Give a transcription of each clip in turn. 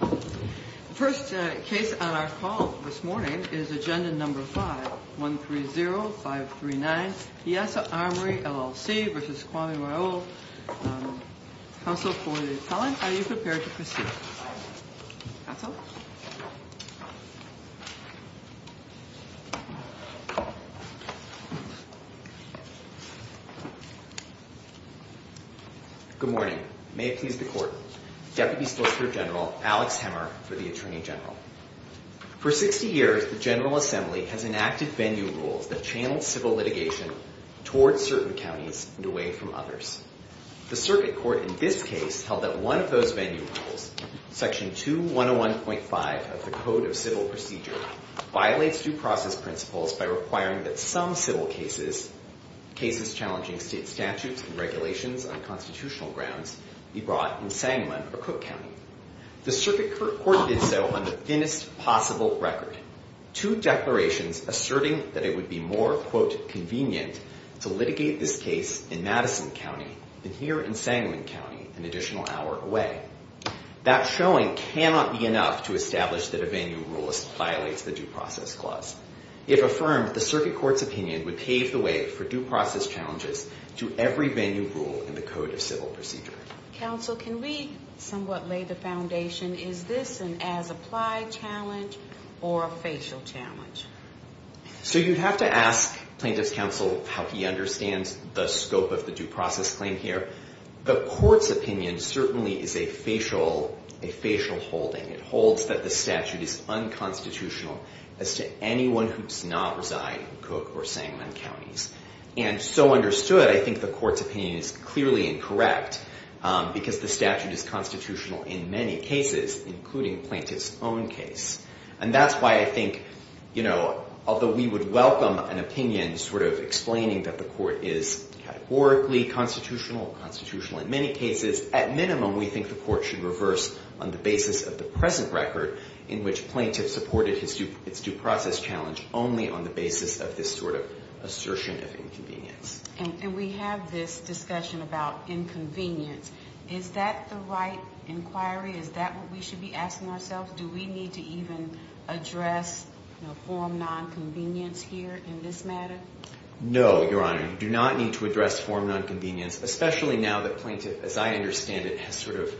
The first case on our call this morning is Agenda No. 5, 130539 Piasa Armory, LLC v. Kwame Raoul Counsel for the Appellant, are you prepared to proceed? Counsel? Good morning. May it please the Court, Deputy Solicitor General Alex Hemmer for the Attorney General. For 60 years, the General Assembly has enacted venue rules that channel civil litigation towards certain counties and away from others. The Circuit Court in this case held that one of those venue rules, Section 2101.5 of the Code of Civil Procedure, violates due process principles by requiring that some civil cases, cases challenging state statutes and regulations on constitutional grounds, be brought in Sangamon or Cook County. The Circuit Court did so on the thinnest possible record. Two declarations asserting that it would be more, quote, convenient to litigate this case in Madison County than here in Sangamon County, an additional hour away. That showing cannot be enough to establish that a venue rule violates the due process clause. If affirmed, the Circuit Court's opinion would pave the way for due process challenges to every venue rule in the Code of Civil Procedure. Counsel, can we somewhat lay the foundation, is this an as-applied challenge or a facial challenge? So you'd have to ask Plaintiff's Counsel how he understands the scope of the due process claim here. The Court's opinion certainly is a facial, a facial holding. It holds that the statute is unconstitutional as to anyone who does not reside in Cook or Sangamon counties. And so understood, I think the Court's opinion is clearly incorrect because the statute is constitutional in many cases, including Plaintiff's own case. And that's why I think, you know, although we would welcome an opinion sort of explaining that the court is categorically constitutional, constitutional in many cases, at minimum we think the Court should reverse on the basis of the present record in which Plaintiff supported its due process challenge only on the basis of this sort of assertion of inconvenience. And we have this discussion about inconvenience. Is that the right inquiry? Is that what we should be asking ourselves? Do we need to even address, you know, form nonconvenience here in this matter? No, Your Honor. You do not need to address form nonconvenience, especially now that Plaintiff, as I understand it, has sort of,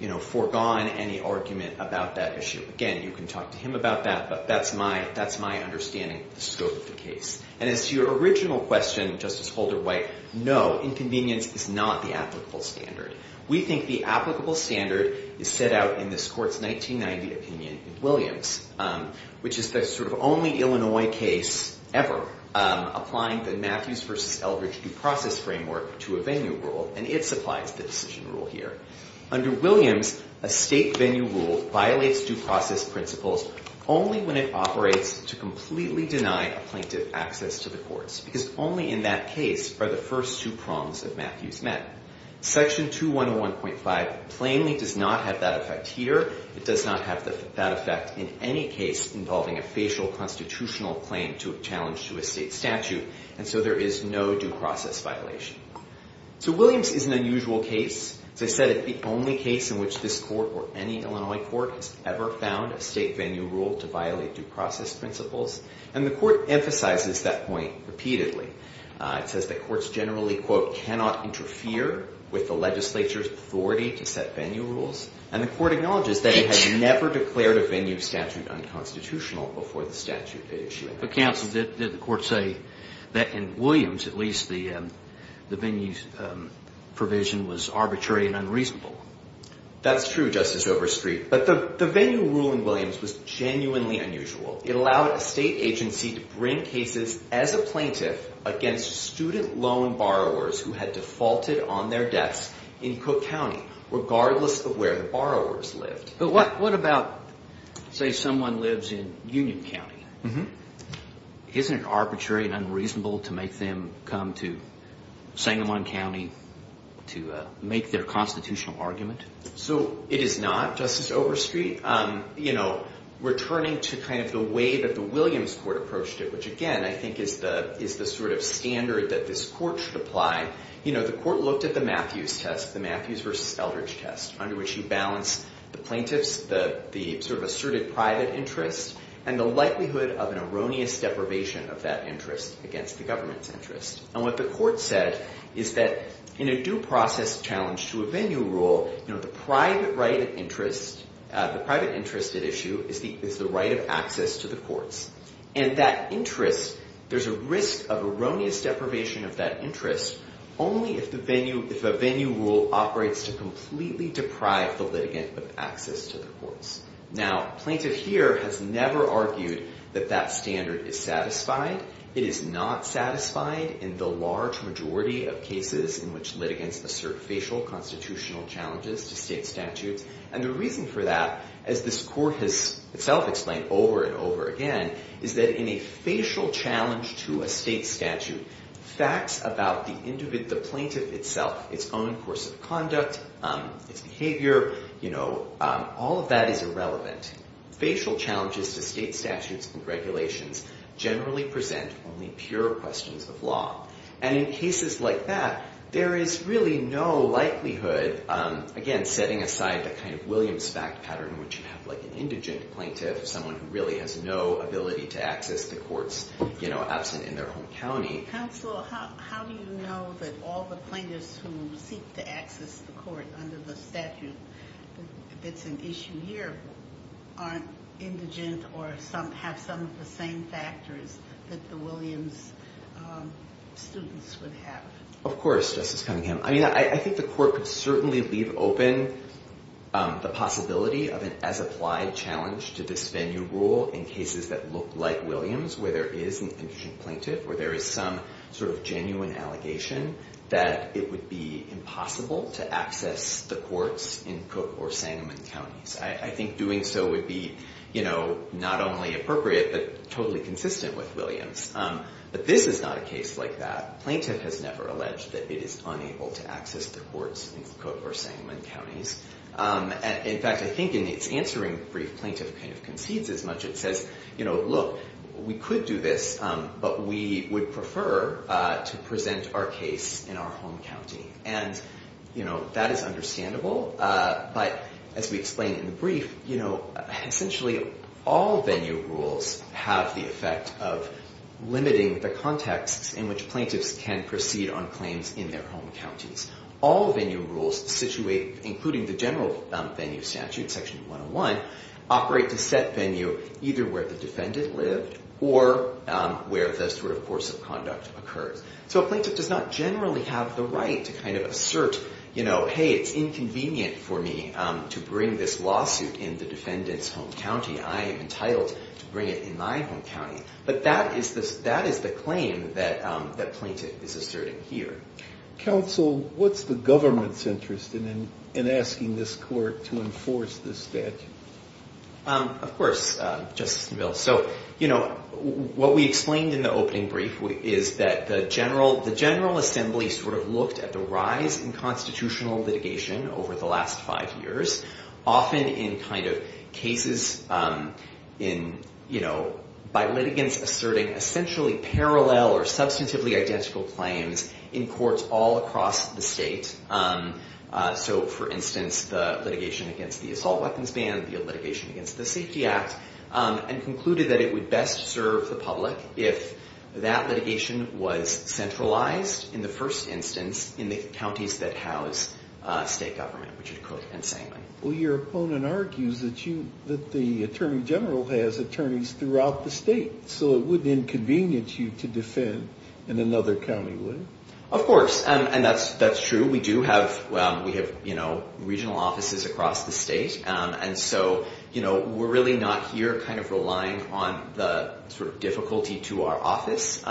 you know, foregone any argument about that issue. Again, you can talk to him about that, but that's my understanding of the scope of the case. And as to your original question, Justice Holder-White, no, inconvenience is not the applicable standard. We think the applicable standard is set out in this Court's 1990 opinion in Williams, which is the sort of only Illinois case ever applying the Matthews v. Eldridge due process framework to a venue rule, and it supplies the decision rule here. Under Williams, a state venue rule violates due process principles only when it operates to completely deny a Plaintiff access to the courts, because only in that case are the first two prongs of Matthews met. Section 2101.5 plainly does not have that effect here. It does not have that effect in any case involving a facial constitutional claim to a challenge to a state statute, and so there is no due process violation. So Williams is an unusual case. As I said, it's the only case in which this Court or any Illinois court has ever found a state venue rule to violate due process principles, and the Court emphasizes that point repeatedly. It says that courts generally, quote, cannot interfere with the legislature's authority to set venue rules, and the Court acknowledges that it had never declared a venue statute unconstitutional before the statute it issued. But Counsel, did the Court say that in Williams, at least, the venue provision was arbitrary and unreasonable? That's true, Justice Overstreet, but the venue rule in Williams was genuinely unusual. It allowed a state agency to bring cases as a Plaintiff against student loan borrowers who had defaulted on their debts in Cook County, regardless of where the borrowers lived. But what about, say, someone lives in Union County? Isn't it arbitrary and unreasonable to make them come to Sangamon County to make their constitutional argument? So it is not, Justice Overstreet. You know, returning to kind of the way that the Williams Court approached it, which, again, I think is the sort of standard that this Court should apply, you know, the Court looked at the Matthews test, the Matthews versus Eldridge test, under which you balance the Plaintiffs, the sort of asserted private interest, and the likelihood of an erroneous deprivation of that interest against the government's interest. And what the Court said is that in a due process challenge to a venue rule, you know, the private right of interest, the private interest at issue is the right of access to the courts. And that interest, there's a risk of erroneous deprivation of that interest only if a venue rule operates to completely deprive the litigant of access to the courts. Now, Plaintiff here has never argued that that standard is satisfied. It is not satisfied in the large majority of cases in which litigants assert facial constitutional challenges to state statutes. And the reason for that, as this Court has itself explained over and over again, is that in a facial challenge to a state statute, facts about the Plaintiff itself, its own course of conduct, its behavior, you know, all of that is irrelevant. Facial challenges to state statutes and regulations generally present only pure questions of law. And in cases like that, there is really no likelihood, again, setting aside the kind of Williams fact pattern in which you have, like, an indigent plaintiff, someone who really has no ability to access the courts, you know, absent in their home county. Counsel, how do you know that all the plaintiffs who seek to access the court under the statute that's an issue here aren't indigent or have some of the same factors that the Williams students would have? Of course, Justice Cunningham. I mean, I think the Court could certainly leave open the possibility of an as-applied challenge to this venue rule in cases that look like Williams, where there is an indigent plaintiff, where there is some sort of genuine allegation that it would be impossible to access the courts in Cook or Sangamon counties. I think doing so would be, you know, not only appropriate, but totally consistent with Williams. But this is not a case like that. Plaintiff has never alleged that it is unable to access the courts in Cook or Sangamon counties. In fact, I think in its answering brief, plaintiff kind of concedes as much. It says, you know, look, we could do this, but we would prefer to present our case in our home county. And, you know, that is understandable. But as we explained in the brief, you know, essentially all venue rules have the effect of limiting the context in which plaintiffs can proceed on claims in their home counties. All venue rules, including the general venue statute, section 101, operate to set venue either where the defendant lived or where the sort of course of conduct occurs. So a plaintiff does not generally have the right to kind of assert, you know, hey, it's inconvenient for me to bring this lawsuit in the defendant's home county. I am entitled to bring it in my home county. But that is the claim that plaintiff is asserting here. Counsel, what's the government's interest in asking this court to enforce this statute? Of course, Justice Neville. So, you know, what we explained in the opening brief is that the General Assembly sort of looked at the rise in constitutional litigation over the last five years, often in kind of cases in, you know, by litigants asserting essentially parallel or substantively identical claims in courts all across the state. So, for instance, the litigation against the assault weapons ban, the litigation against the Safety Act, and concluded that it would best serve the public if that litigation was centralized in the first instance in the counties that house state government. Well, your opponent argues that the Attorney General has attorneys throughout the state. So it wouldn't inconvenience you to defend in another county, would it? Of course. And that's true. We do have, you know, regional offices across the state. And so, you know, we're really not here kind of relying on the sort of difficulty to our office.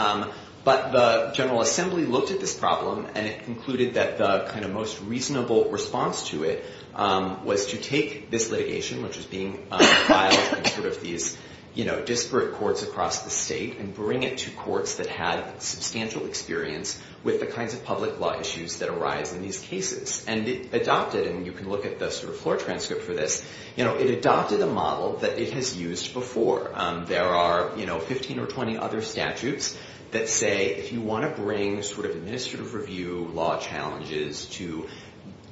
But the General Assembly looked at this problem and it concluded that the kind of most reasonable response to it was to take this litigation, which is being sort of these, you know, disparate courts across the state and bring it to courts that had substantial experience with the kinds of public law issues that arise in these cases. And it adopted, and you can look at the sort of floor transcript for this, you know, it adopted a model that it has used before. There are, you know, 15 or 20 other statutes that say if you want to bring sort of administrative review law challenges to,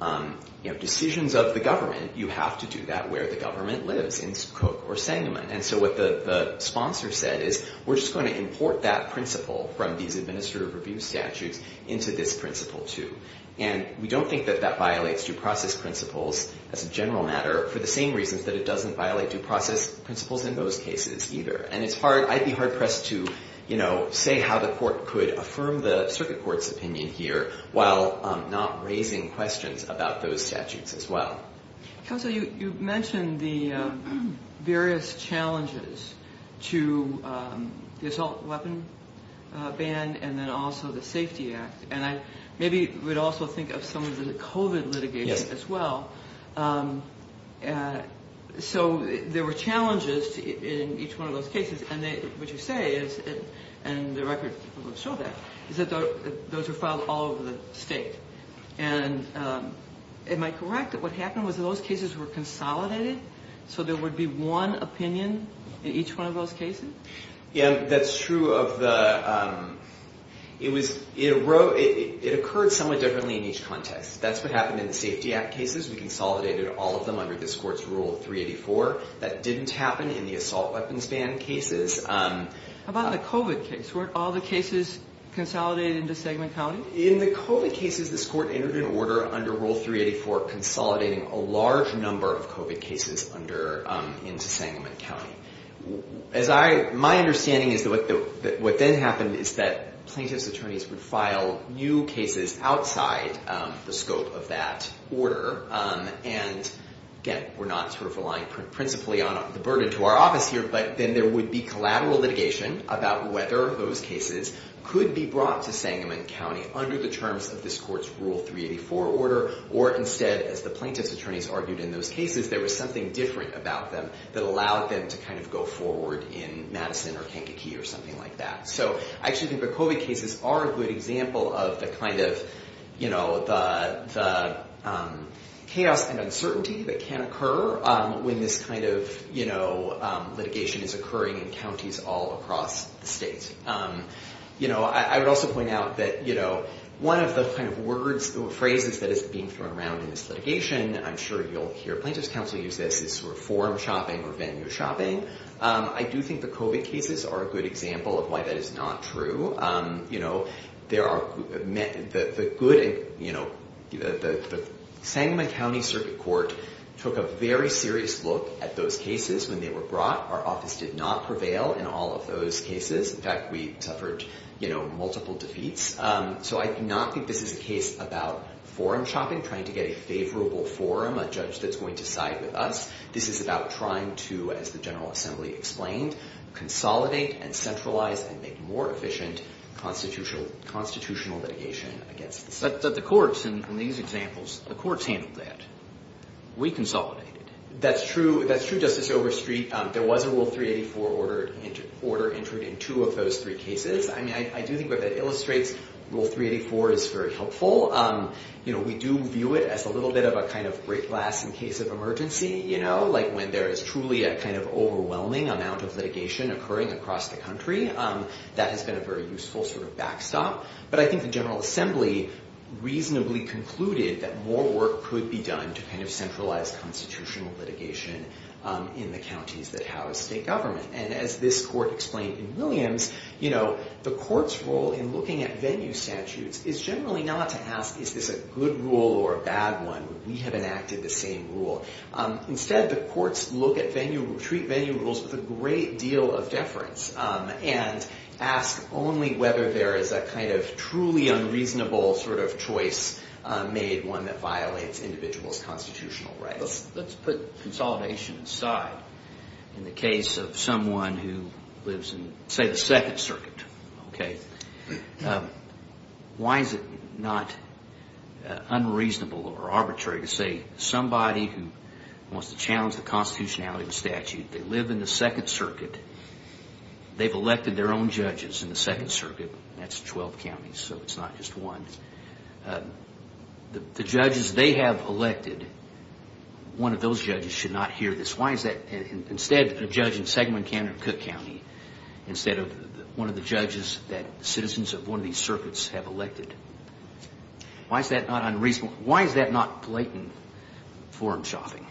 you know, decisions of the government, you have to do that where the government lives in Cook or Sangamon. And so what the sponsor said is we're just going to import that principle from these administrative review statutes into this principle too. And we don't think that that violates due process principles as a general matter for the same reasons that it doesn't violate due process principles in those cases either. And it's hard, I'd be hard pressed to, you know, say how the court could affirm the circuit court's opinion here while not raising questions about those statutes as well. Counsel, you mentioned the various challenges to the assault weapon ban and then also the Safety Act. And I maybe would also think of some of the COVID litigation as well. So there were challenges in each one of those cases. And what you say is, and the record will show that, is that those were filed all over the state. And am I correct that what happened was that those cases were consolidated so there would be one opinion in each one of those cases? Yeah, that's true. It occurred somewhat differently in each context. That's what happened in the Safety Act cases. We consolidated all of them under this court's Rule 384. That didn't happen in the assault weapons ban cases. How about the COVID case? Weren't all the cases consolidated into Sangamon County? In the COVID cases, this court entered an order under Rule 384 consolidating a large number of COVID cases into Sangamon County. My understanding is that what then happened is that plaintiff's attorneys would file new cases outside the scope of that order. And again, we're not relying principally on the burden to our office here, but then there would be collateral litigation about whether those cases could be brought to Sangamon County under the terms of this court's Rule 384 order. Or instead, as the plaintiff's attorneys argued in those cases, there was something different about them that allowed them to kind of go forward in Madison or Kankakee or something like that. So I actually think the COVID cases are a good example of the kind of chaos and uncertainty that can occur when this kind of litigation is occurring in counties all across the state. You know, I would also point out that, you know, one of the kind of words or phrases that is being thrown around in this litigation, I'm sure you'll hear plaintiff's counsel use this, is sort of forum shopping or venue shopping. I do think the COVID cases are a good example of why that is not true. You know, the Sangamon County Circuit Court took a very serious look at those cases when they were brought. Our office did not prevail in all of those cases. In fact, we suffered multiple defeats. So I do not think this is a case about forum shopping, trying to get a favorable forum, a judge that's going to side with us. This is about trying to, as the General Assembly explained, consolidate and centralize and make more efficient constitutional litigation against the state. But the courts in these examples, the courts handled that. We consolidated. That's true. That's true, Justice Overstreet. There was a Rule 384 order entered in two of those three cases. I mean, I do think what that illustrates, Rule 384 is very helpful. You know, we do view it as a little bit of a kind of break glass in case of emergency. You know, like when there is truly a kind of overwhelming amount of litigation occurring across the country. That has been a very useful sort of backstop. But I think the General Assembly reasonably concluded that more work could be done to kind of centralize constitutional litigation in the counties that house state government. And as this court explained in Williams, you know, the court's role in looking at venue statutes is generally not to ask, is this a good rule or a bad one? We have enacted the same rule. Instead, the courts look at venue, treat venue rules with a great deal of deference and ask only whether there is a kind of truly unreasonable sort of choice made, one that violates individuals' constitutional rights. Let's put consolidation aside in the case of someone who lives in, say, the Second Circuit. Why is it not unreasonable or arbitrary to say somebody who wants to challenge the constitutionality of the statute, they live in the Second Circuit, they've elected their own judges in the Second Circuit, and that's 12 counties, so it's not just one. The judges they have elected, one of those judges should not hear this. Why is that? Instead, a judge in Sagamon County or Cook County, instead of one of the judges that citizens of one of these circuits have elected. Why is that not unreasonable? Why is that not blatant forum shopping?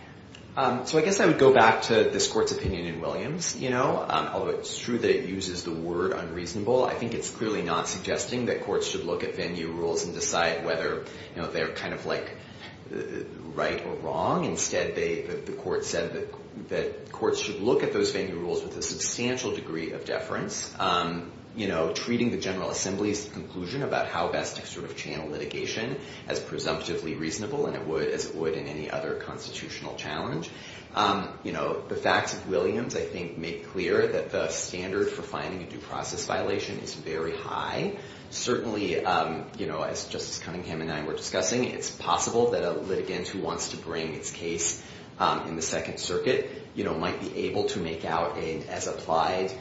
So I guess I would go back to this court's opinion in Williams. You know, although it's true that it uses the word unreasonable, I think it's clearly not suggesting that courts should look at venue rules and decide whether they're kind of like right or wrong. Instead, the court said that courts should look at those venue rules with a substantial degree of deference. You know, treating the General Assembly's conclusion about how best to sort of channel litigation as presumptively reasonable, and it would as it would in any other constitutional challenge. You know, the facts of Williams, I think, make clear that the standard for finding a due process violation is very high. Certainly, you know, as Justice Cunningham and I were discussing, it's possible that a litigant who wants to bring its case in the Second Circuit, you know, might be able to make out an as-applied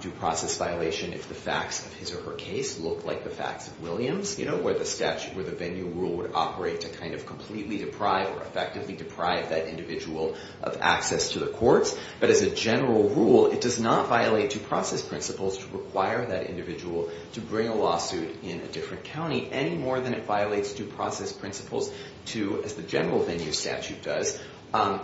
due process violation if the facts of his or her case look like the facts of Williams. You know, where the statute, where the venue rule would operate to kind of completely deprive or effectively deprive that individual of access to the courts. But as a general rule, it does not violate due process principles to require that individual to bring a lawsuit in a different county any more than it violates due process principles to, as the general venue statute does,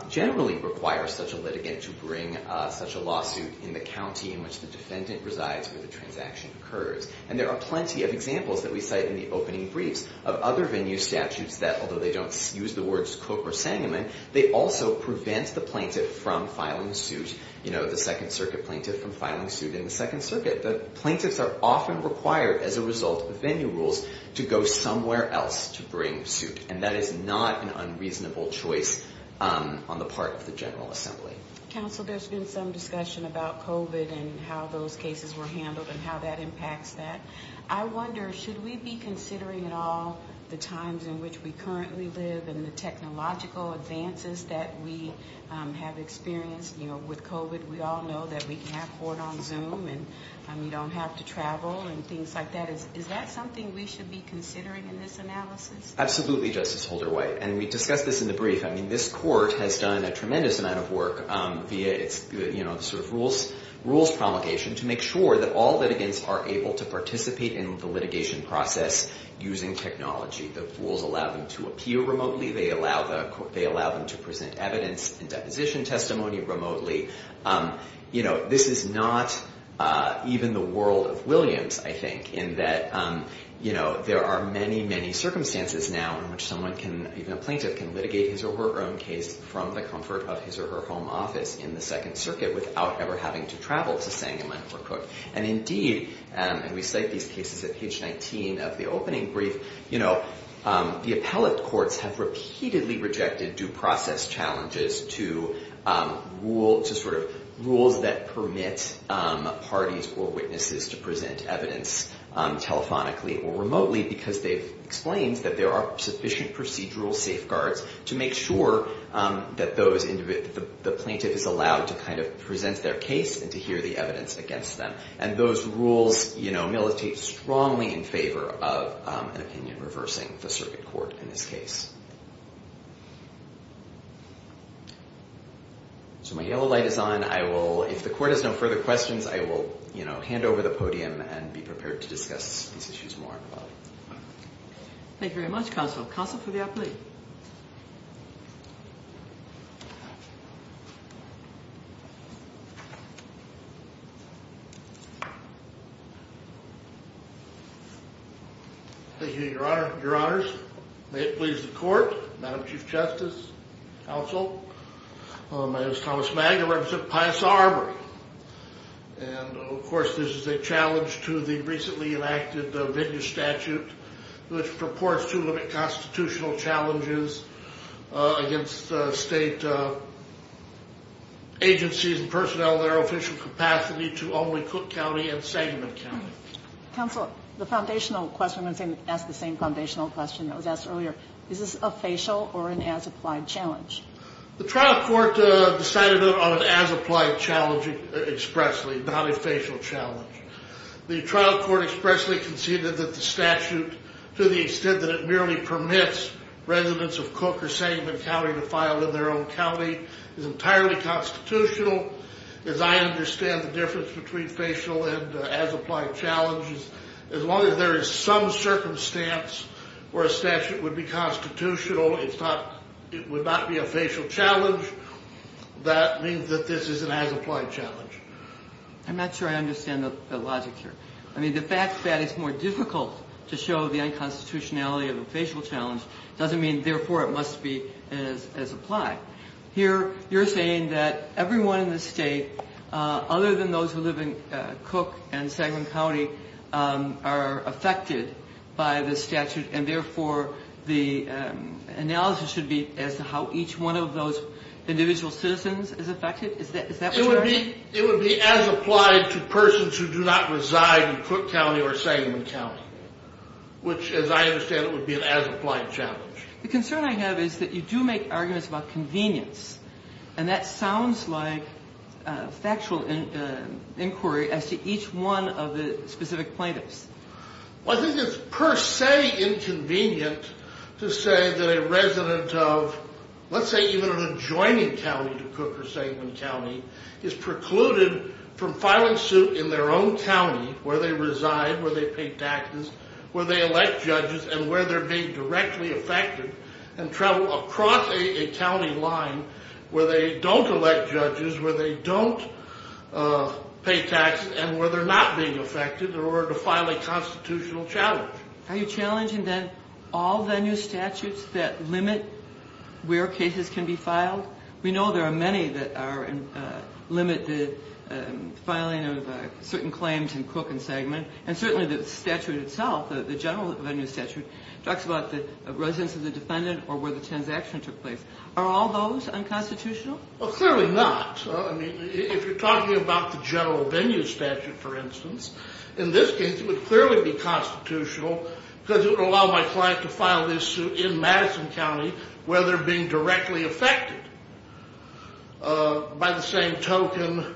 generally require such a litigant to bring such a lawsuit in the county in which the defendant resides where the transaction occurs. And there are plenty of examples that we cite in the opening briefs of other venue statutes that, although they don't use the words Cook or Sangamon, they also prevent the plaintiff from filing suit. You know, the Second Circuit plaintiff from filing suit in the Second Circuit. The plaintiffs are often required as a result of venue rules to go somewhere else to bring suit. And that is not an unreasonable choice on the part of the General Assembly. Counsel, there's been some discussion about COVID and how those cases were handled and how that impacts that. I wonder, should we be considering at all the times in which we currently live and the technological advances that we have experienced with COVID? We all know that we can have court on Zoom and we don't have to travel and things like that. Is that something we should be considering in this analysis? Absolutely, Justice Holder-White. And we discussed this in the brief. I mean, this court has done a tremendous amount of work via its rules promulgation to make sure that all litigants are able to participate in the litigation process using technology. The rules allow them to appear remotely. They allow them to present evidence and deposition testimony remotely. You know, this is not even the world of Williams, I think, in that there are many, many circumstances now in which someone can, even a plaintiff, can litigate his or her own case from the comfort of his or her home office in the Second Circuit without ever having to travel to Sangamon or Cook. And indeed, and we cite these cases at page 19 of the opening brief, you know, the appellate courts have repeatedly rejected due process challenges to rules that permit parties or witnesses to present evidence telephonically or remotely because they've explained that there are sufficient procedural safeguards to make sure that the plaintiff is allowed to kind of present their case and to hear the evidence against them. And those rules, you know, militate strongly in favor of an opinion reversing the circuit court in this case. So my yellow light is on. I will, if the court has no further questions, I will, you know, hand over the podium and be prepared to discuss these issues more. Thank you very much, counsel. Counsel for the appellate. Thank you, your honor, your honors. May it please the court, Madam Chief Justice, counsel. My name is Thomas Magg, I represent Pius Arbery. And of course, this is a challenge to the recently enacted Vigna statute, which purports to limit constitutional challenges against state agencies and personnel in their official capacity to only Cook County and Sagamon County. Counsel, the foundational question, I'm going to ask the same foundational question that was asked earlier. Is this a facial or an as-applied challenge? The trial court decided on an as-applied challenge expressly, not a facial challenge. The trial court expressly conceded that the statute, to the extent that it merely permits residents of Cook or Sagamon County to file in their own county, is entirely constitutional. As I understand the difference between facial and as-applied challenges, as long as there is some circumstance where a statute would be constitutional, it would not be a facial challenge. That means that this is an as-applied challenge. I'm not sure I understand the logic here. I mean, the fact that it's more difficult to show the unconstitutionality of a facial challenge doesn't mean, therefore, it must be as applied. Here, you're saying that everyone in the state, other than those who live in Cook and Sagamon County, are affected by the statute, and therefore, the analysis should be as to how each one of those individual citizens is affected? It would be as applied to persons who do not reside in Cook County or Sagamon County, which, as I understand it, would be an as-applied challenge. The concern I have is that you do make arguments about convenience, and that sounds like factual inquiry as to each one of the specific plaintiffs. Well, I think it's per se inconvenient to say that a resident of, let's say even an adjoining county to Cook or Sagamon County, is precluded from filing suit in their own county where they reside, where they pay taxes, where they elect judges, and where they're being directly affected, and travel across a county line where they don't elect judges, where they don't pay taxes, and where they're not being affected in order to file a constitutional challenge. Are you challenging, then, all venue statutes that limit where cases can be filed? We know there are many that limit the filing of certain claims in Cook and Sagamon, and certainly the statute itself, the general venue statute, talks about the residence of the defendant or where the transaction took place. Are all those unconstitutional? Well, clearly not. I mean, if you're talking about the general venue statute, for instance, in this case it would clearly be constitutional because it would allow my client to file this suit in Madison County where they're being directly affected by the same token.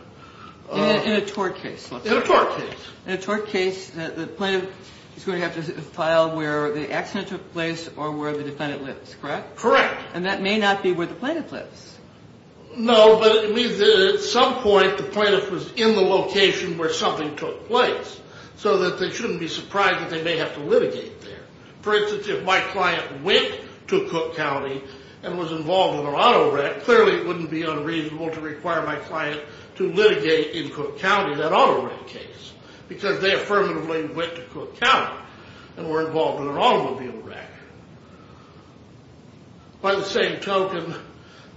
In a tort case, let's say. In a tort case. In a tort case, the plaintiff is going to have to file where the accident took place or where the defendant lives, correct? Correct. And that may not be where the plaintiff lives. No, but it means that at some point the plaintiff was in the location where something took place so that they shouldn't be surprised that they may have to litigate there. For instance, if my client went to Cook County and was involved in an auto wreck, clearly it wouldn't be unreasonable to require my client to litigate in Cook County that auto wreck case because they affirmatively went to Cook County and were involved in an automobile wreck. By the same token,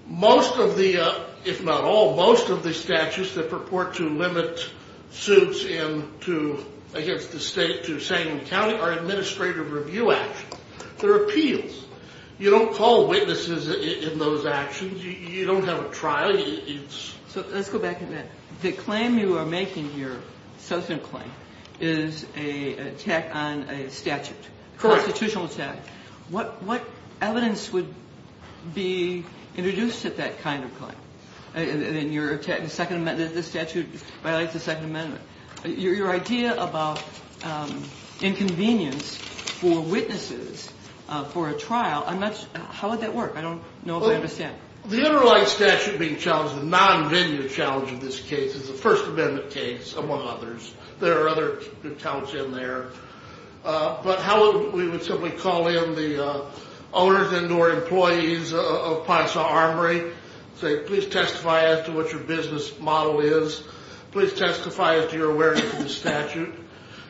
most of the, if not all, most of the statutes that purport to limit suits against the state to the same county are administrative review actions. They're appeals. You don't call witnesses in those actions. You don't have a trial. So let's go back a minute. The claim you are making here, subsequent claim, is an attack on a statute. Correct. It's a constitutional attack. What evidence would be introduced at that kind of claim? In your second amendment, this statute violates the second amendment. Your idea about inconvenience for witnesses for a trial, how would that work? I don't know if I understand. The underlying statute being challenged, the non-venue challenge in this case, is a First Amendment case, among others. There are other accounts in there. But how we would simply call in the owners and or employees of Pine Saw Armory, say, please testify as to what your business model is. Please testify as to your awareness of the statute.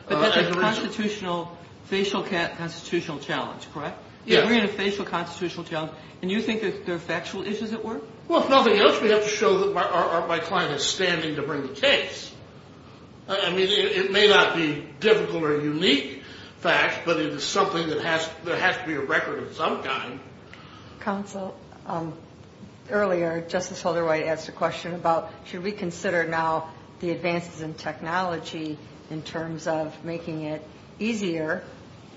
But that's a constitutional, facial constitutional challenge, correct? Yeah. We're in a facial constitutional challenge, and you think there are factual issues at work? Well, if nothing else, we have to show that my client is standing to bring the case. I mean, it may not be difficult or unique facts, but it is something that has to be a record of some kind. Counsel, earlier Justice Holderwhite asked a question about, should we consider now the advances in technology in terms of making it easier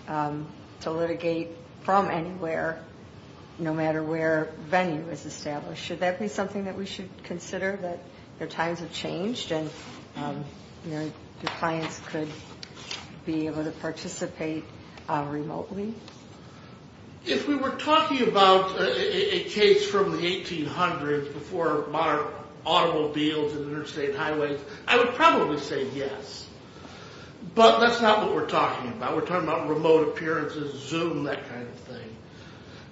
to litigate from anywhere, no matter where venue is established. Should that be something that we should consider, that the times have changed and your clients could be able to participate remotely? If we were talking about a case from the 1800s before modern automobiles and interstate highways, I would probably say yes. But that's not what we're talking about. We're talking about remote appearances, Zoom, that kind of thing.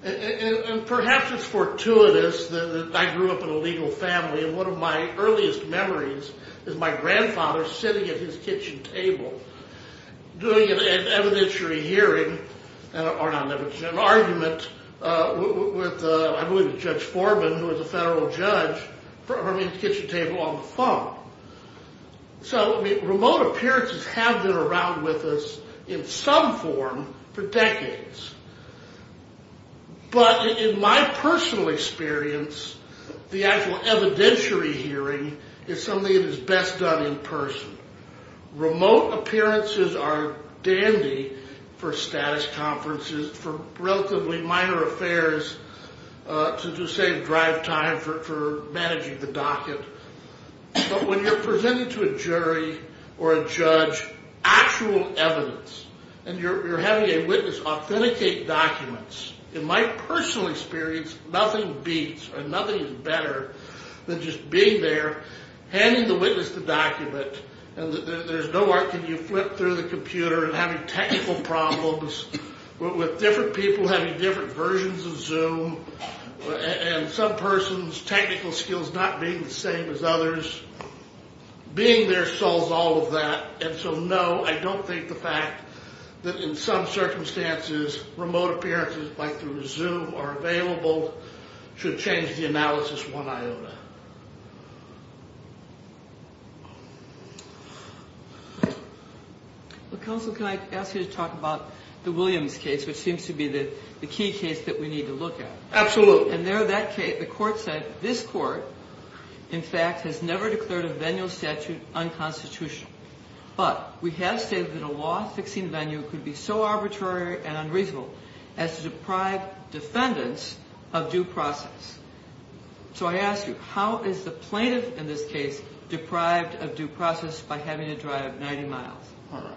And perhaps it's fortuitous that I grew up in a legal family, and one of my earliest memories is my grandfather sitting at his kitchen table doing an evidentiary hearing, or not an evidentiary, an argument with, I believe, Judge Foreman, who was a federal judge, from his kitchen table on the phone. So remote appearances have been around with us in some form for decades. But in my personal experience, the actual evidentiary hearing is something that is best done in person. Remote appearances are dandy for status conferences, for relatively minor affairs to save drive time for managing the docket. But when you're presenting to a jury or a judge actual evidence, and you're having a witness authenticate documents, in my personal experience, nothing beats or nothing is better than just being there, handing the witness the document, and there's no more can you flip through the computer and having technical problems with different people having different versions of Zoom and some person's technical skills not being the same as others. Being there solves all of that. And so, no, I don't think the fact that in some circumstances remote appearances like through Zoom are available should change the analysis one iota. Counsel, can I ask you to talk about the Williams case, which seems to be the key case that we need to look at? The court said, this court, in fact, has never declared a venue statute unconstitutional. But we have stated that a law fixing venue could be so arbitrary and unreasonable as to deprive defendants of due process. So I ask you, how is the plaintiff in this case deprived of due process by having to drive 90 miles? All right.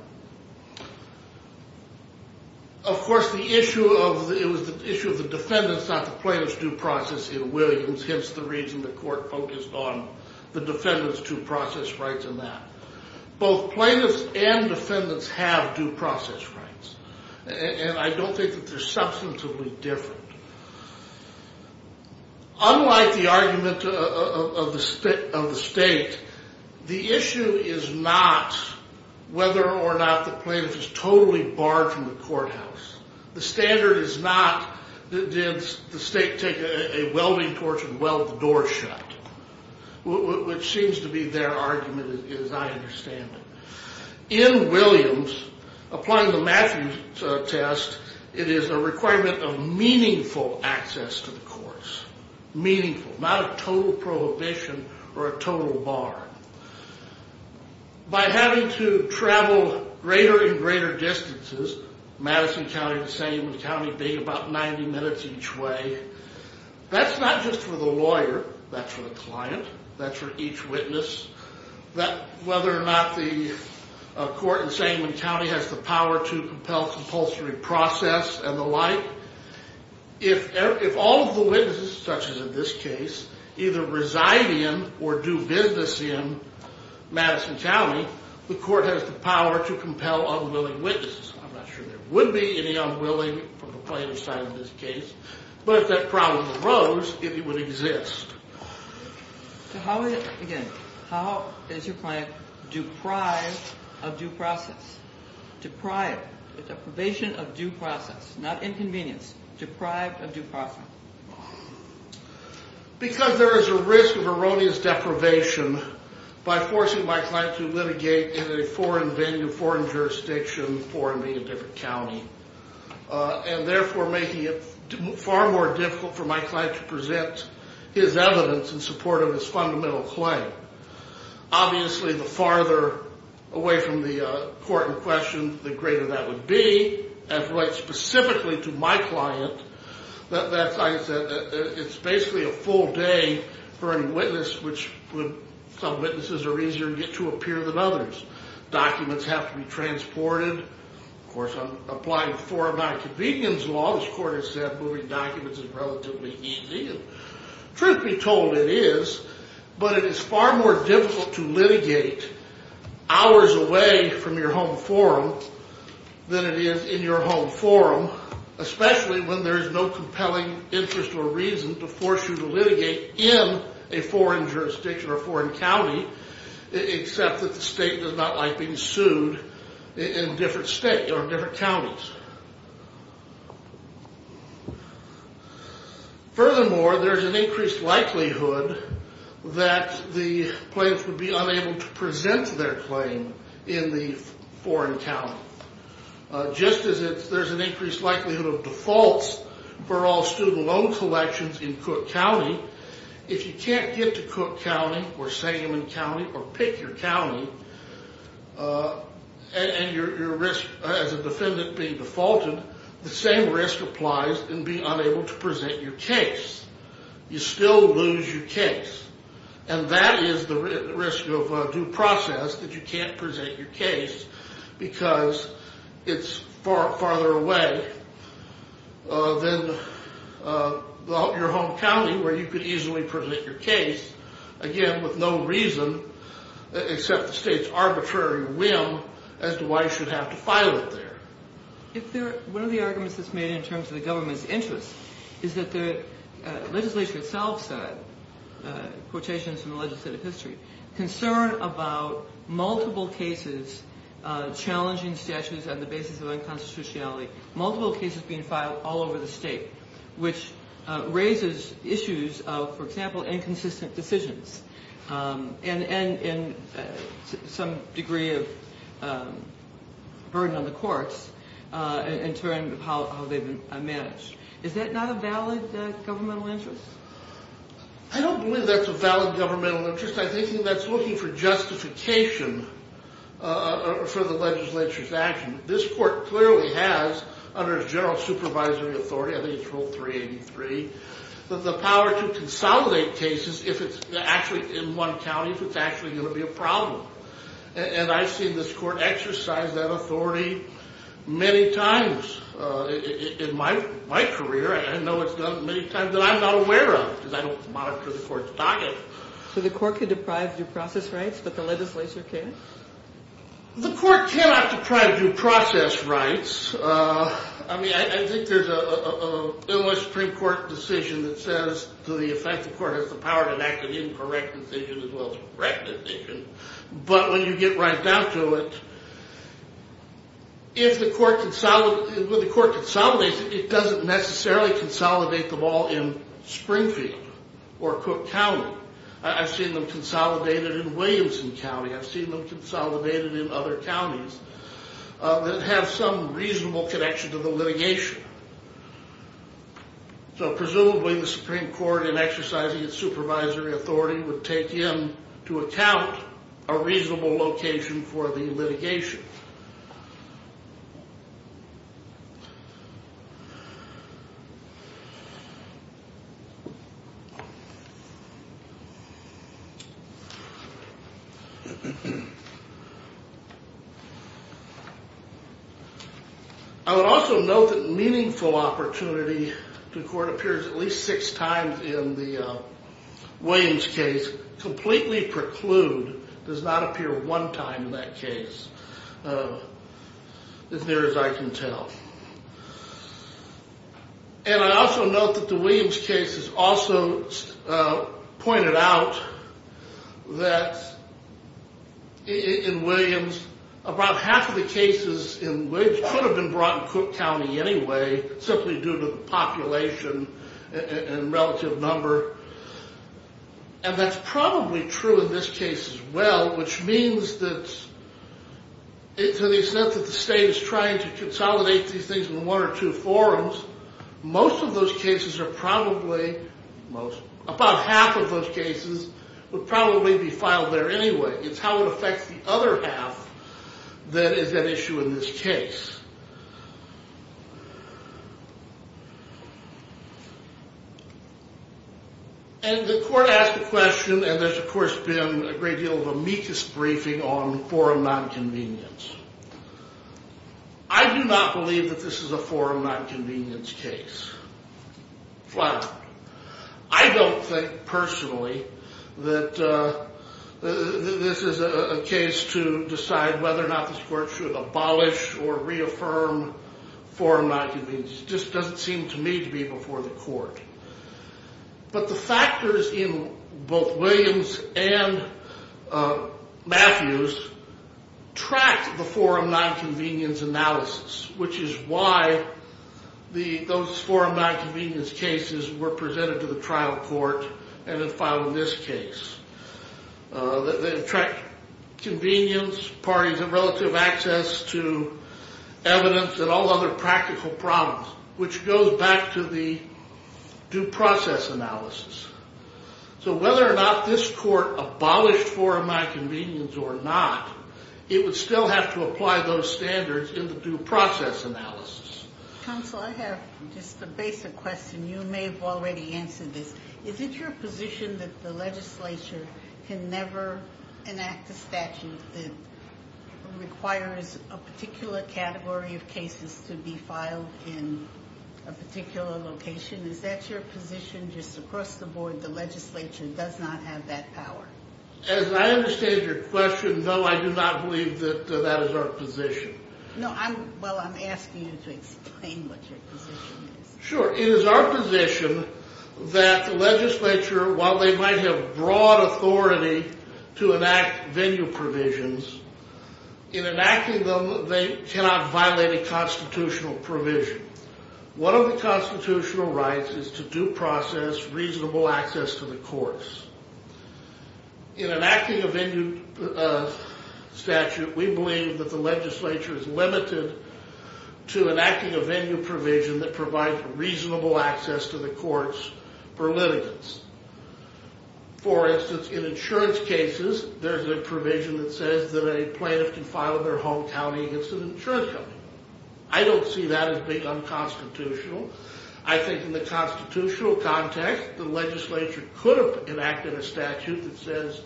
Of course, it was the issue of the defendants, not the plaintiff's due process in Williams, hence the reason the court focused on the defendant's due process rights in that. Both plaintiffs and defendants have due process rights, and I don't think that they're substantively different. Unlike the argument of the state, the issue is not whether or not the plaintiff is totally barred from the courthouse. The standard is not, did the state take a welding torch and weld the door shut, which seems to be their argument, as I understand it. In Williams, applying the Matthews test, it is a requirement of meaningful access to the courts, not a total prohibition or a total bar. By having to travel greater and greater distances, Madison County and Sangamon County being about 90 minutes each way, that's not just for the lawyer, that's for the client, that's for each witness. Whether or not the court in Sangamon County has the power to compel compulsory process and the like, if all of the witnesses, such as in this case, either reside in or do business in Madison County, the court has the power to compel unwilling witnesses. I'm not sure there would be any unwilling from the plaintiff's side in this case, but if that problem arose, it would exist. Again, how is your client deprived of due process? Deprived. Deprivation of due process. Not inconvenience. Deprived of due process. Because there is a risk of erroneous deprivation by forcing my client to litigate in a foreign venue, foreign jurisdiction, foreign being a different county, and therefore making it far more difficult for my client to present his evidence in support of his fundamental claim. Obviously, the farther away from the court in question, the greater that would be. As it relates specifically to my client, it's basically a full day for any witness, which some witnesses are easier to get to appear than others. Documents have to be transported. Of course, I'm applying a foreign non-convenience law. This court has said moving documents is relatively easy. Truth be told, it is, but it is far more difficult to litigate hours away from your home forum than it is in your home forum, especially when there is no compelling interest or reason to force you to litigate in a foreign jurisdiction or foreign county, except that the state does not like being sued in different states or different counties. Furthermore, there is an increased likelihood that the plaintiffs would be unable to present their claim in the foreign county, just as there is an increased likelihood of defaults for all student loan collections in Cook County. If you can't get to Cook County or Sangamon County or pick your county, and your risk as a defendant being defaulted, the same risk applies in being unable to present your case. You still lose your case, and that is the risk of due process that you can't present your case because it's farther away than your home county where you could easily present your case, again, with no reason except the state's arbitrary whim as to why you should have to file it there. One of the arguments that's made in terms of the government's interest is that the legislature itself said, quotations from the legislative history, concern about multiple cases challenging statutes on the basis of unconstitutionality, multiple cases being filed all over the state, which raises issues of, for example, inconsistent decisions and some degree of burden on the courts in terms of how they've been managed. Is that not a valid governmental interest? I don't believe that's a valid governmental interest. I think that's looking for justification for the legislature's action. This court clearly has, under its general supervisory authority, I think it's rule 383, the power to consolidate cases in one county if it's actually going to be a problem. And I've seen this court exercise that authority many times in my career. I know it's done many times that I'm not aware of because I don't monitor the court's docket. So the court could deprive due process rights, but the legislature can't? The court cannot deprive due process rights. I think there's an Illinois Supreme Court decision that says to the effect the court has the power to enact an incorrect decision as well as a correct decision. But when you get right down to it, if the court consolidates it, it doesn't necessarily consolidate them all in Springfield or Cook County. I've seen them consolidated in Williamson County. I've seen them consolidated in other counties that have some reasonable connection to the litigation. So presumably the Supreme Court, in exercising its supervisory authority, would take into account a reasonable location for the litigation. I would also note that meaningful opportunity, the court appears at least six times in the Williams case, completely preclude, does not appear one time in that case. As near as I can tell. And I also note that the Williams case has also pointed out that in Williams, about half of the cases in Williams could have been brought in Cook County anyway, simply due to the population and relative number. And that's probably true in this case as well, which means that to the extent that the state is trying to consolidate these things in one or two forums, most of those cases are probably, about half of those cases would probably be filed there anyway. It's how it affects the other half that is at issue in this case. And the court asked a question, and there's of course been a great deal of amicus briefing on forum nonconvenience. I do not believe that this is a forum nonconvenience case. Flat out. I don't think personally that this is a case to decide whether or not this court should abolish or reaffirm forum nonconvenience. It just doesn't seem to me to be before the court. But the factors in both Williams and Matthews track the forum nonconvenience analysis, which is why those forum nonconvenience cases were presented to the trial court and then filed in this case. They track convenience, parties of relative access to evidence, and all other practical problems, which goes back to the due process analysis. So whether or not this court abolished forum nonconvenience or not, it would still have to apply those standards in the due process analysis. Counsel, I have just a basic question. You may have already answered this. Is it your position that the legislature can never enact a statute that requires a particular category of cases to be filed in a particular location? Is that your position just across the board, the legislature does not have that power? As I understand your question, no, I do not believe that that is our position. Well, I'm asking you to explain what your position is. Sure. It is our position that the legislature, while they might have broad authority to enact venue provisions, in enacting them they cannot violate a constitutional provision. One of the constitutional rights is to due process reasonable access to the courts. In enacting a venue statute, we believe that the legislature is limited to enacting a venue provision that provides reasonable access to the courts for litigants. For instance, in insurance cases, there's a provision that says that a plaintiff can file in their home county against an insurance company. I don't see that as being unconstitutional. I think in the constitutional context, the legislature could have enacted a statute that says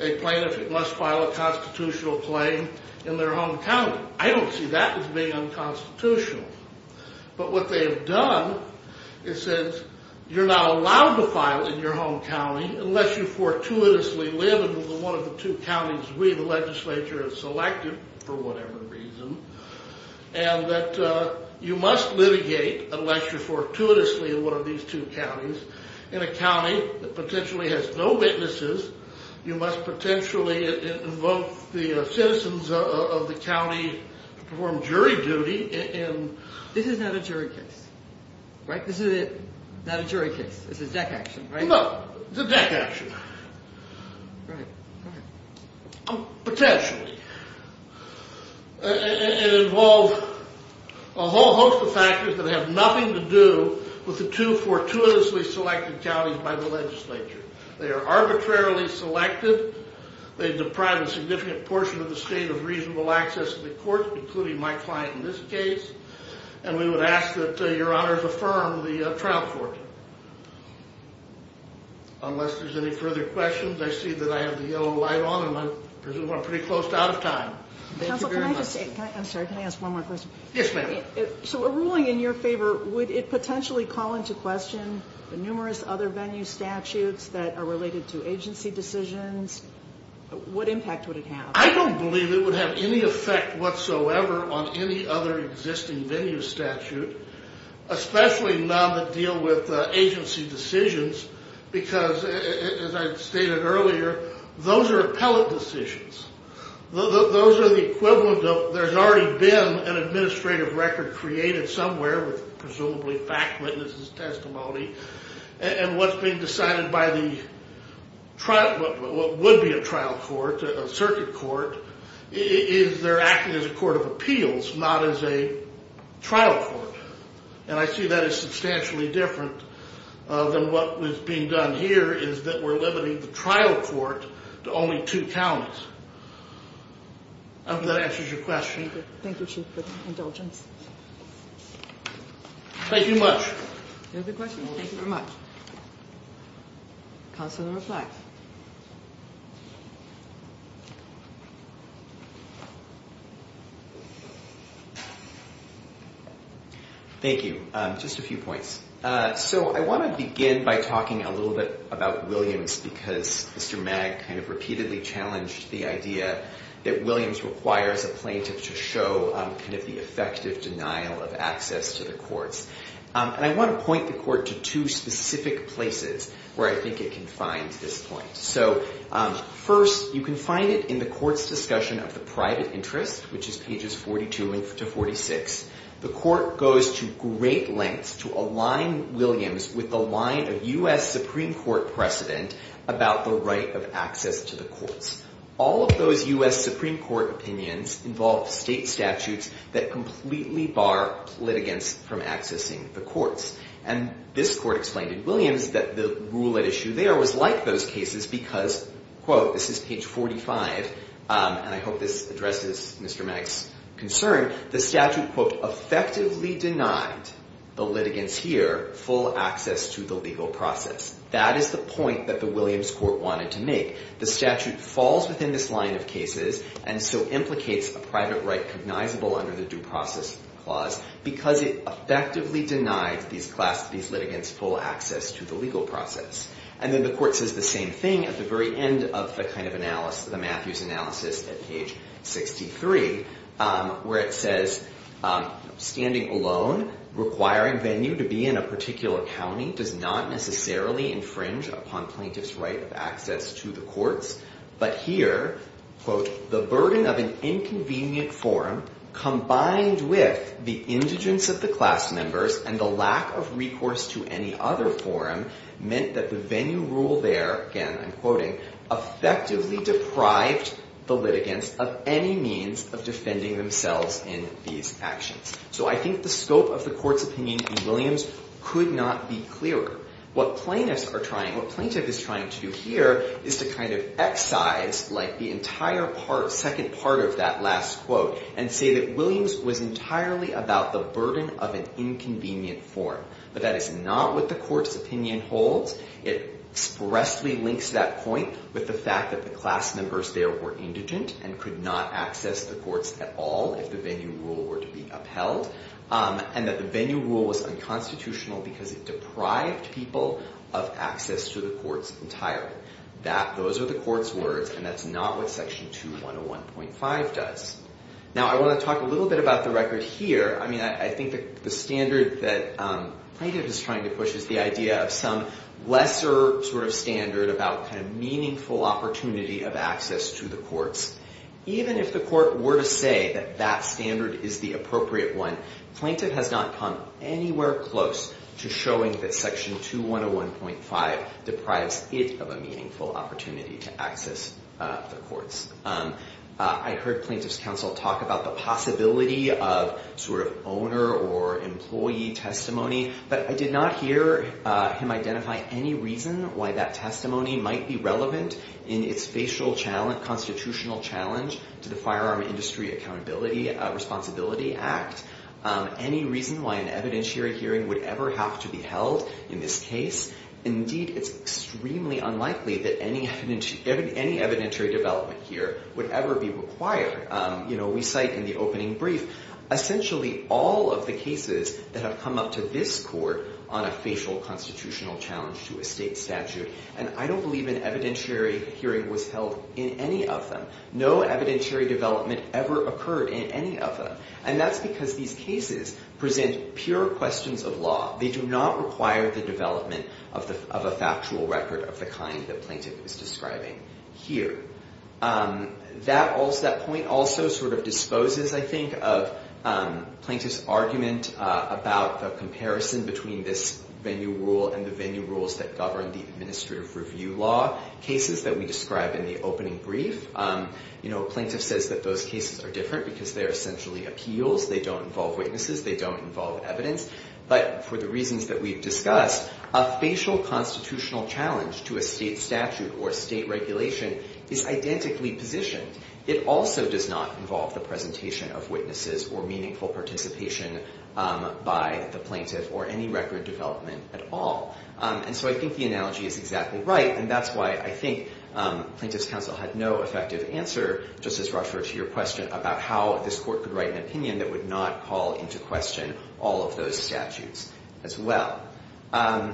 a plaintiff must file a constitutional claim in their home county. I don't see that as being unconstitutional. But what they have done, it says you're not allowed to file in your home county unless you fortuitously live in one of the two counties we, the legislature, have selected, for whatever reason, and that you must litigate a legislature fortuitously in one of these two counties. In a county that potentially has no witnesses, you must potentially invoke the citizens of the county to perform jury duty. This is not a jury case, right? This is not a jury case. This is deck action, right? No, it's a deck action. Right, right. Potentially. It involves a whole host of factors that have nothing to do with the two fortuitously selected counties by the legislature. They are arbitrarily selected. They deprive a significant portion of the state of reasonable access to the courts, including my client in this case, and we would ask that your honors affirm the trial court. Unless there's any further questions, I see that I have the yellow light on, and I presume we're pretty close to out of time. Counsel, can I just say, I'm sorry, can I ask one more question? Yes, ma'am. So a ruling in your favor, would it potentially call into question the numerous other venue statutes that are related to agency decisions? What impact would it have? I don't believe it would have any effect whatsoever on any other existing venue statute, especially none that deal with agency decisions, because as I stated earlier, those are appellate decisions. Those are the equivalent of, there's already been an administrative record created somewhere with presumably fact witnesses' testimony, and what's being decided by what would be a trial court, a circuit court, is they're acting as a court of appeals, not as a trial court. And I see that as substantially different than what was being done here, is that we're limiting the trial court to only two counties. I hope that answers your question. Thank you, Chief, for the indulgence. Thank you much. Thank you very much. Counsel to reply. Thank you. Just a few points. So I want to begin by talking a little bit about Williams, because Mr. Magg kind of repeatedly challenged the idea that Williams requires a plaintiff to show kind of the effective denial of access to the courts. And I want to point the court to two specific places where I think it can find this point. So first, you can find it in the court's discussion of the private interest, which is pages 42 to 46. The court goes to great lengths to align Williams with the line of U.S. Supreme Court precedent about the right of access to the courts. All of those U.S. Supreme Court opinions involve state statutes that completely bar litigants from accessing the courts. And this court explained in Williams that the rule at issue there was like those cases because, quote, this is page 45, and I hope this addresses Mr. Magg's concern, the statute, quote, effectively denied the litigants here full access to the legal process. That is the point that the Williams court wanted to make. The statute falls within this line of cases, and so implicates a private right cognizable under the due process clause because it effectively denied these litigants full access to the legal process. And then the court says the same thing at the very end of the kind of analysis, at page 63, where it says, standing alone, requiring venue to be in a particular county does not necessarily infringe upon plaintiff's right of access to the courts, but here, quote, the burden of an inconvenient forum combined with the indigence of the class members and the lack of recourse to any other forum meant that the venue rule there, again, I'm quoting, effectively deprived the litigants of any means of defending themselves in these actions. So I think the scope of the court's opinion in Williams could not be clearer. What plaintiffs are trying, what plaintiff is trying to do here is to kind of excise like the entire part, second part of that last quote, and say that Williams was entirely about the burden of an inconvenient forum. But that is not what the court's opinion holds. It expressly links that point with the fact that the class members there were indigent and could not access the courts at all if the venue rule were to be upheld, and that the venue rule was unconstitutional because it deprived people of access to the courts entirely. Those are the court's words, and that's not what section 2101.5 does. Now, I want to talk a little bit about the record here. I mean, I think the standard that plaintiff is trying to push is the idea of some lesser sort of standard about kind of meaningful opportunity of access to the courts. Even if the court were to say that that standard is the appropriate one, plaintiff has not come anywhere close to showing that section 2101.5 deprives it of a meaningful opportunity to access the courts. I heard plaintiff's counsel talk about the possibility of sort of owner or employee testimony, but I did not hear him identify any reason why that testimony might be relevant in its facial constitutional challenge to the Firearm Industry Accountability Responsibility Act, any reason why an evidentiary hearing would ever have to be held in this case. Indeed, it's extremely unlikely that any evidentiary development here would ever be required. You know, we cite in the opening brief essentially all of the cases that have come up to this court on a facial constitutional challenge to a state statute, and I don't believe an evidentiary hearing was held in any of them. No evidentiary development ever occurred in any of them, and that's because these cases present pure questions of law. They do not require the development of a factual record of the kind that plaintiff is describing here. That point also sort of disposes, I think, of plaintiff's argument about the comparison between this venue rule and the venue rules that govern the administrative review law cases that we describe in the opening brief. You know, a plaintiff says that those cases are different because they are essentially appeals. They don't involve witnesses. They don't involve evidence. But for the reasons that we've discussed, a facial constitutional challenge to a state statute or state regulation is identically positioned. It also does not involve the presentation of witnesses or meaningful participation by the plaintiff or any record development at all. And so I think the analogy is exactly right, and that's why I think Plaintiff's Counsel had no effective answer, Justice Rochford, to your question about how this court could write an opinion that would not call into question all of those statutes as well. I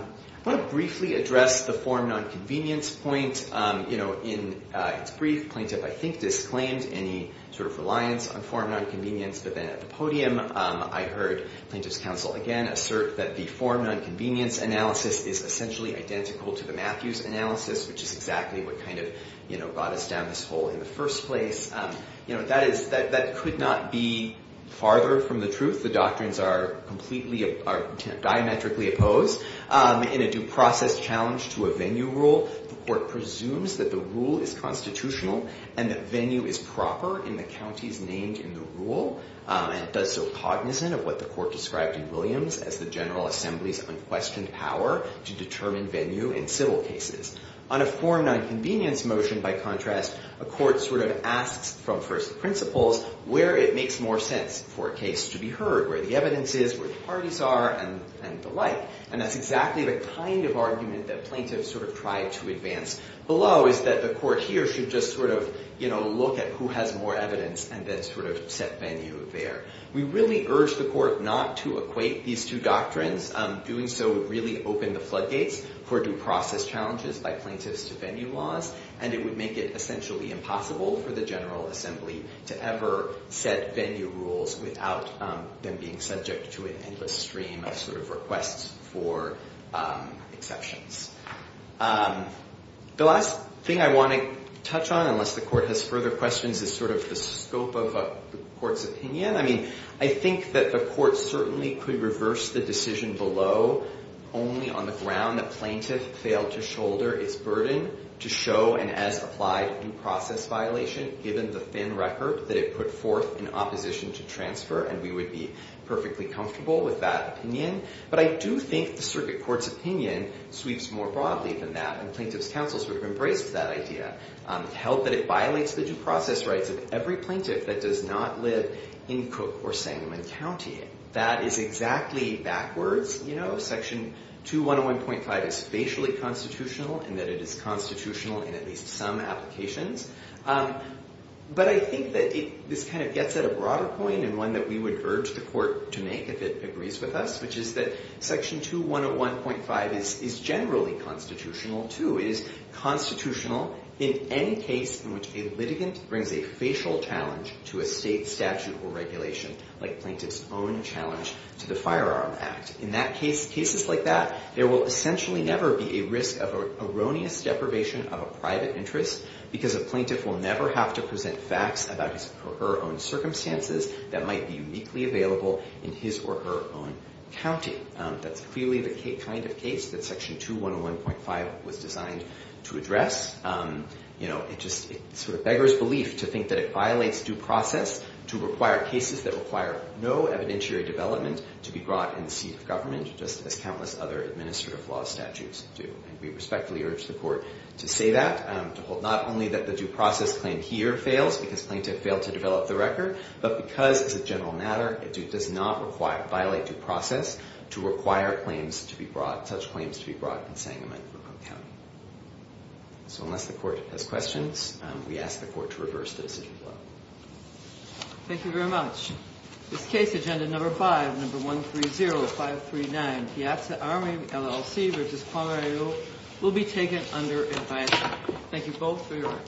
want to briefly address the form nonconvenience point. You know, in its brief, plaintiff, I think, disclaimed any sort of reliance on form nonconvenience, but then at the podium I heard Plaintiff's Counsel again assert that the form nonconvenience analysis is essentially identical to the Matthews analysis, which is exactly what kind of, you know, got us down this hole in the first place. You know, that could not be farther from the truth. The doctrines are completely diametrically opposed. In a due process challenge to a venue rule, the court presumes that the rule is constitutional and that venue is proper in the counties named in the rule, and it does so cognizant of what the court described in Williams as the General Assembly's unquestioned power to determine venue in civil cases. On a form nonconvenience motion, by contrast, a court sort of asks from first principles where it makes more sense for a case to be heard, where the evidence is, where the parties are, and the like, and that's exactly the kind of argument that plaintiffs sort of try to advance below is that the court here should just sort of, you know, look at who has more evidence and then sort of set venue there. We really urge the court not to equate these two doctrines. Doing so would really open the floodgates for due process challenges by plaintiffs to venue laws, and it would make it essentially impossible for the General Assembly to ever set venue rules without them being subject to an endless stream of sort of requests for exceptions. The last thing I want to touch on, unless the court has further questions, is sort of the scope of the court's opinion. I mean, I think that the court certainly could reverse the decision below only on the ground that plaintiff failed to shoulder its burden to show an as-applied due process violation given the thin record that it put forth in opposition to transfer, and we would be perfectly comfortable with that opinion. But I do think the circuit court's opinion sweeps more broadly than that, and plaintiff's counsel sort of embraced that idea, held that it violates the due process rights of every plaintiff that does not live in Cook or Sangamon County. That is exactly backwards, you know. Section 2101.5 is facially constitutional in that it is constitutional in at least some applications. But I think that this kind of gets at a broader point, and one that we would urge the court to make if it agrees with us, which is that Section 2101.5 is generally constitutional, too. It is constitutional in any case in which a litigant brings a facial challenge to a state statute or regulation, like plaintiff's own challenge to the Firearm Act. In cases like that, there will essentially never be a risk of erroneous deprivation of a private interest because a plaintiff will never have to present facts about his or her own circumstances that might be uniquely available in his or her own county. That's clearly the kind of case that Section 2101.5 was designed to address. It just sort of beggars belief to think that it violates due process to require cases that require no evidentiary development to be brought in the seat of government, just as countless other administrative law statutes do. We respectfully urge the court to say that, to hold not only that the due process claim here fails because plaintiff failed to develop the record, but because, as a general matter, it does not violate due process to require such claims to be brought in Sangamon County. So unless the court has questions, we ask the court to reverse the decision. Thank you very much. This case, Agenda No. 5, No. 130539, Piazza Army, LLC v. Cuamarello, will be taken under advisory. Thank you both for your work.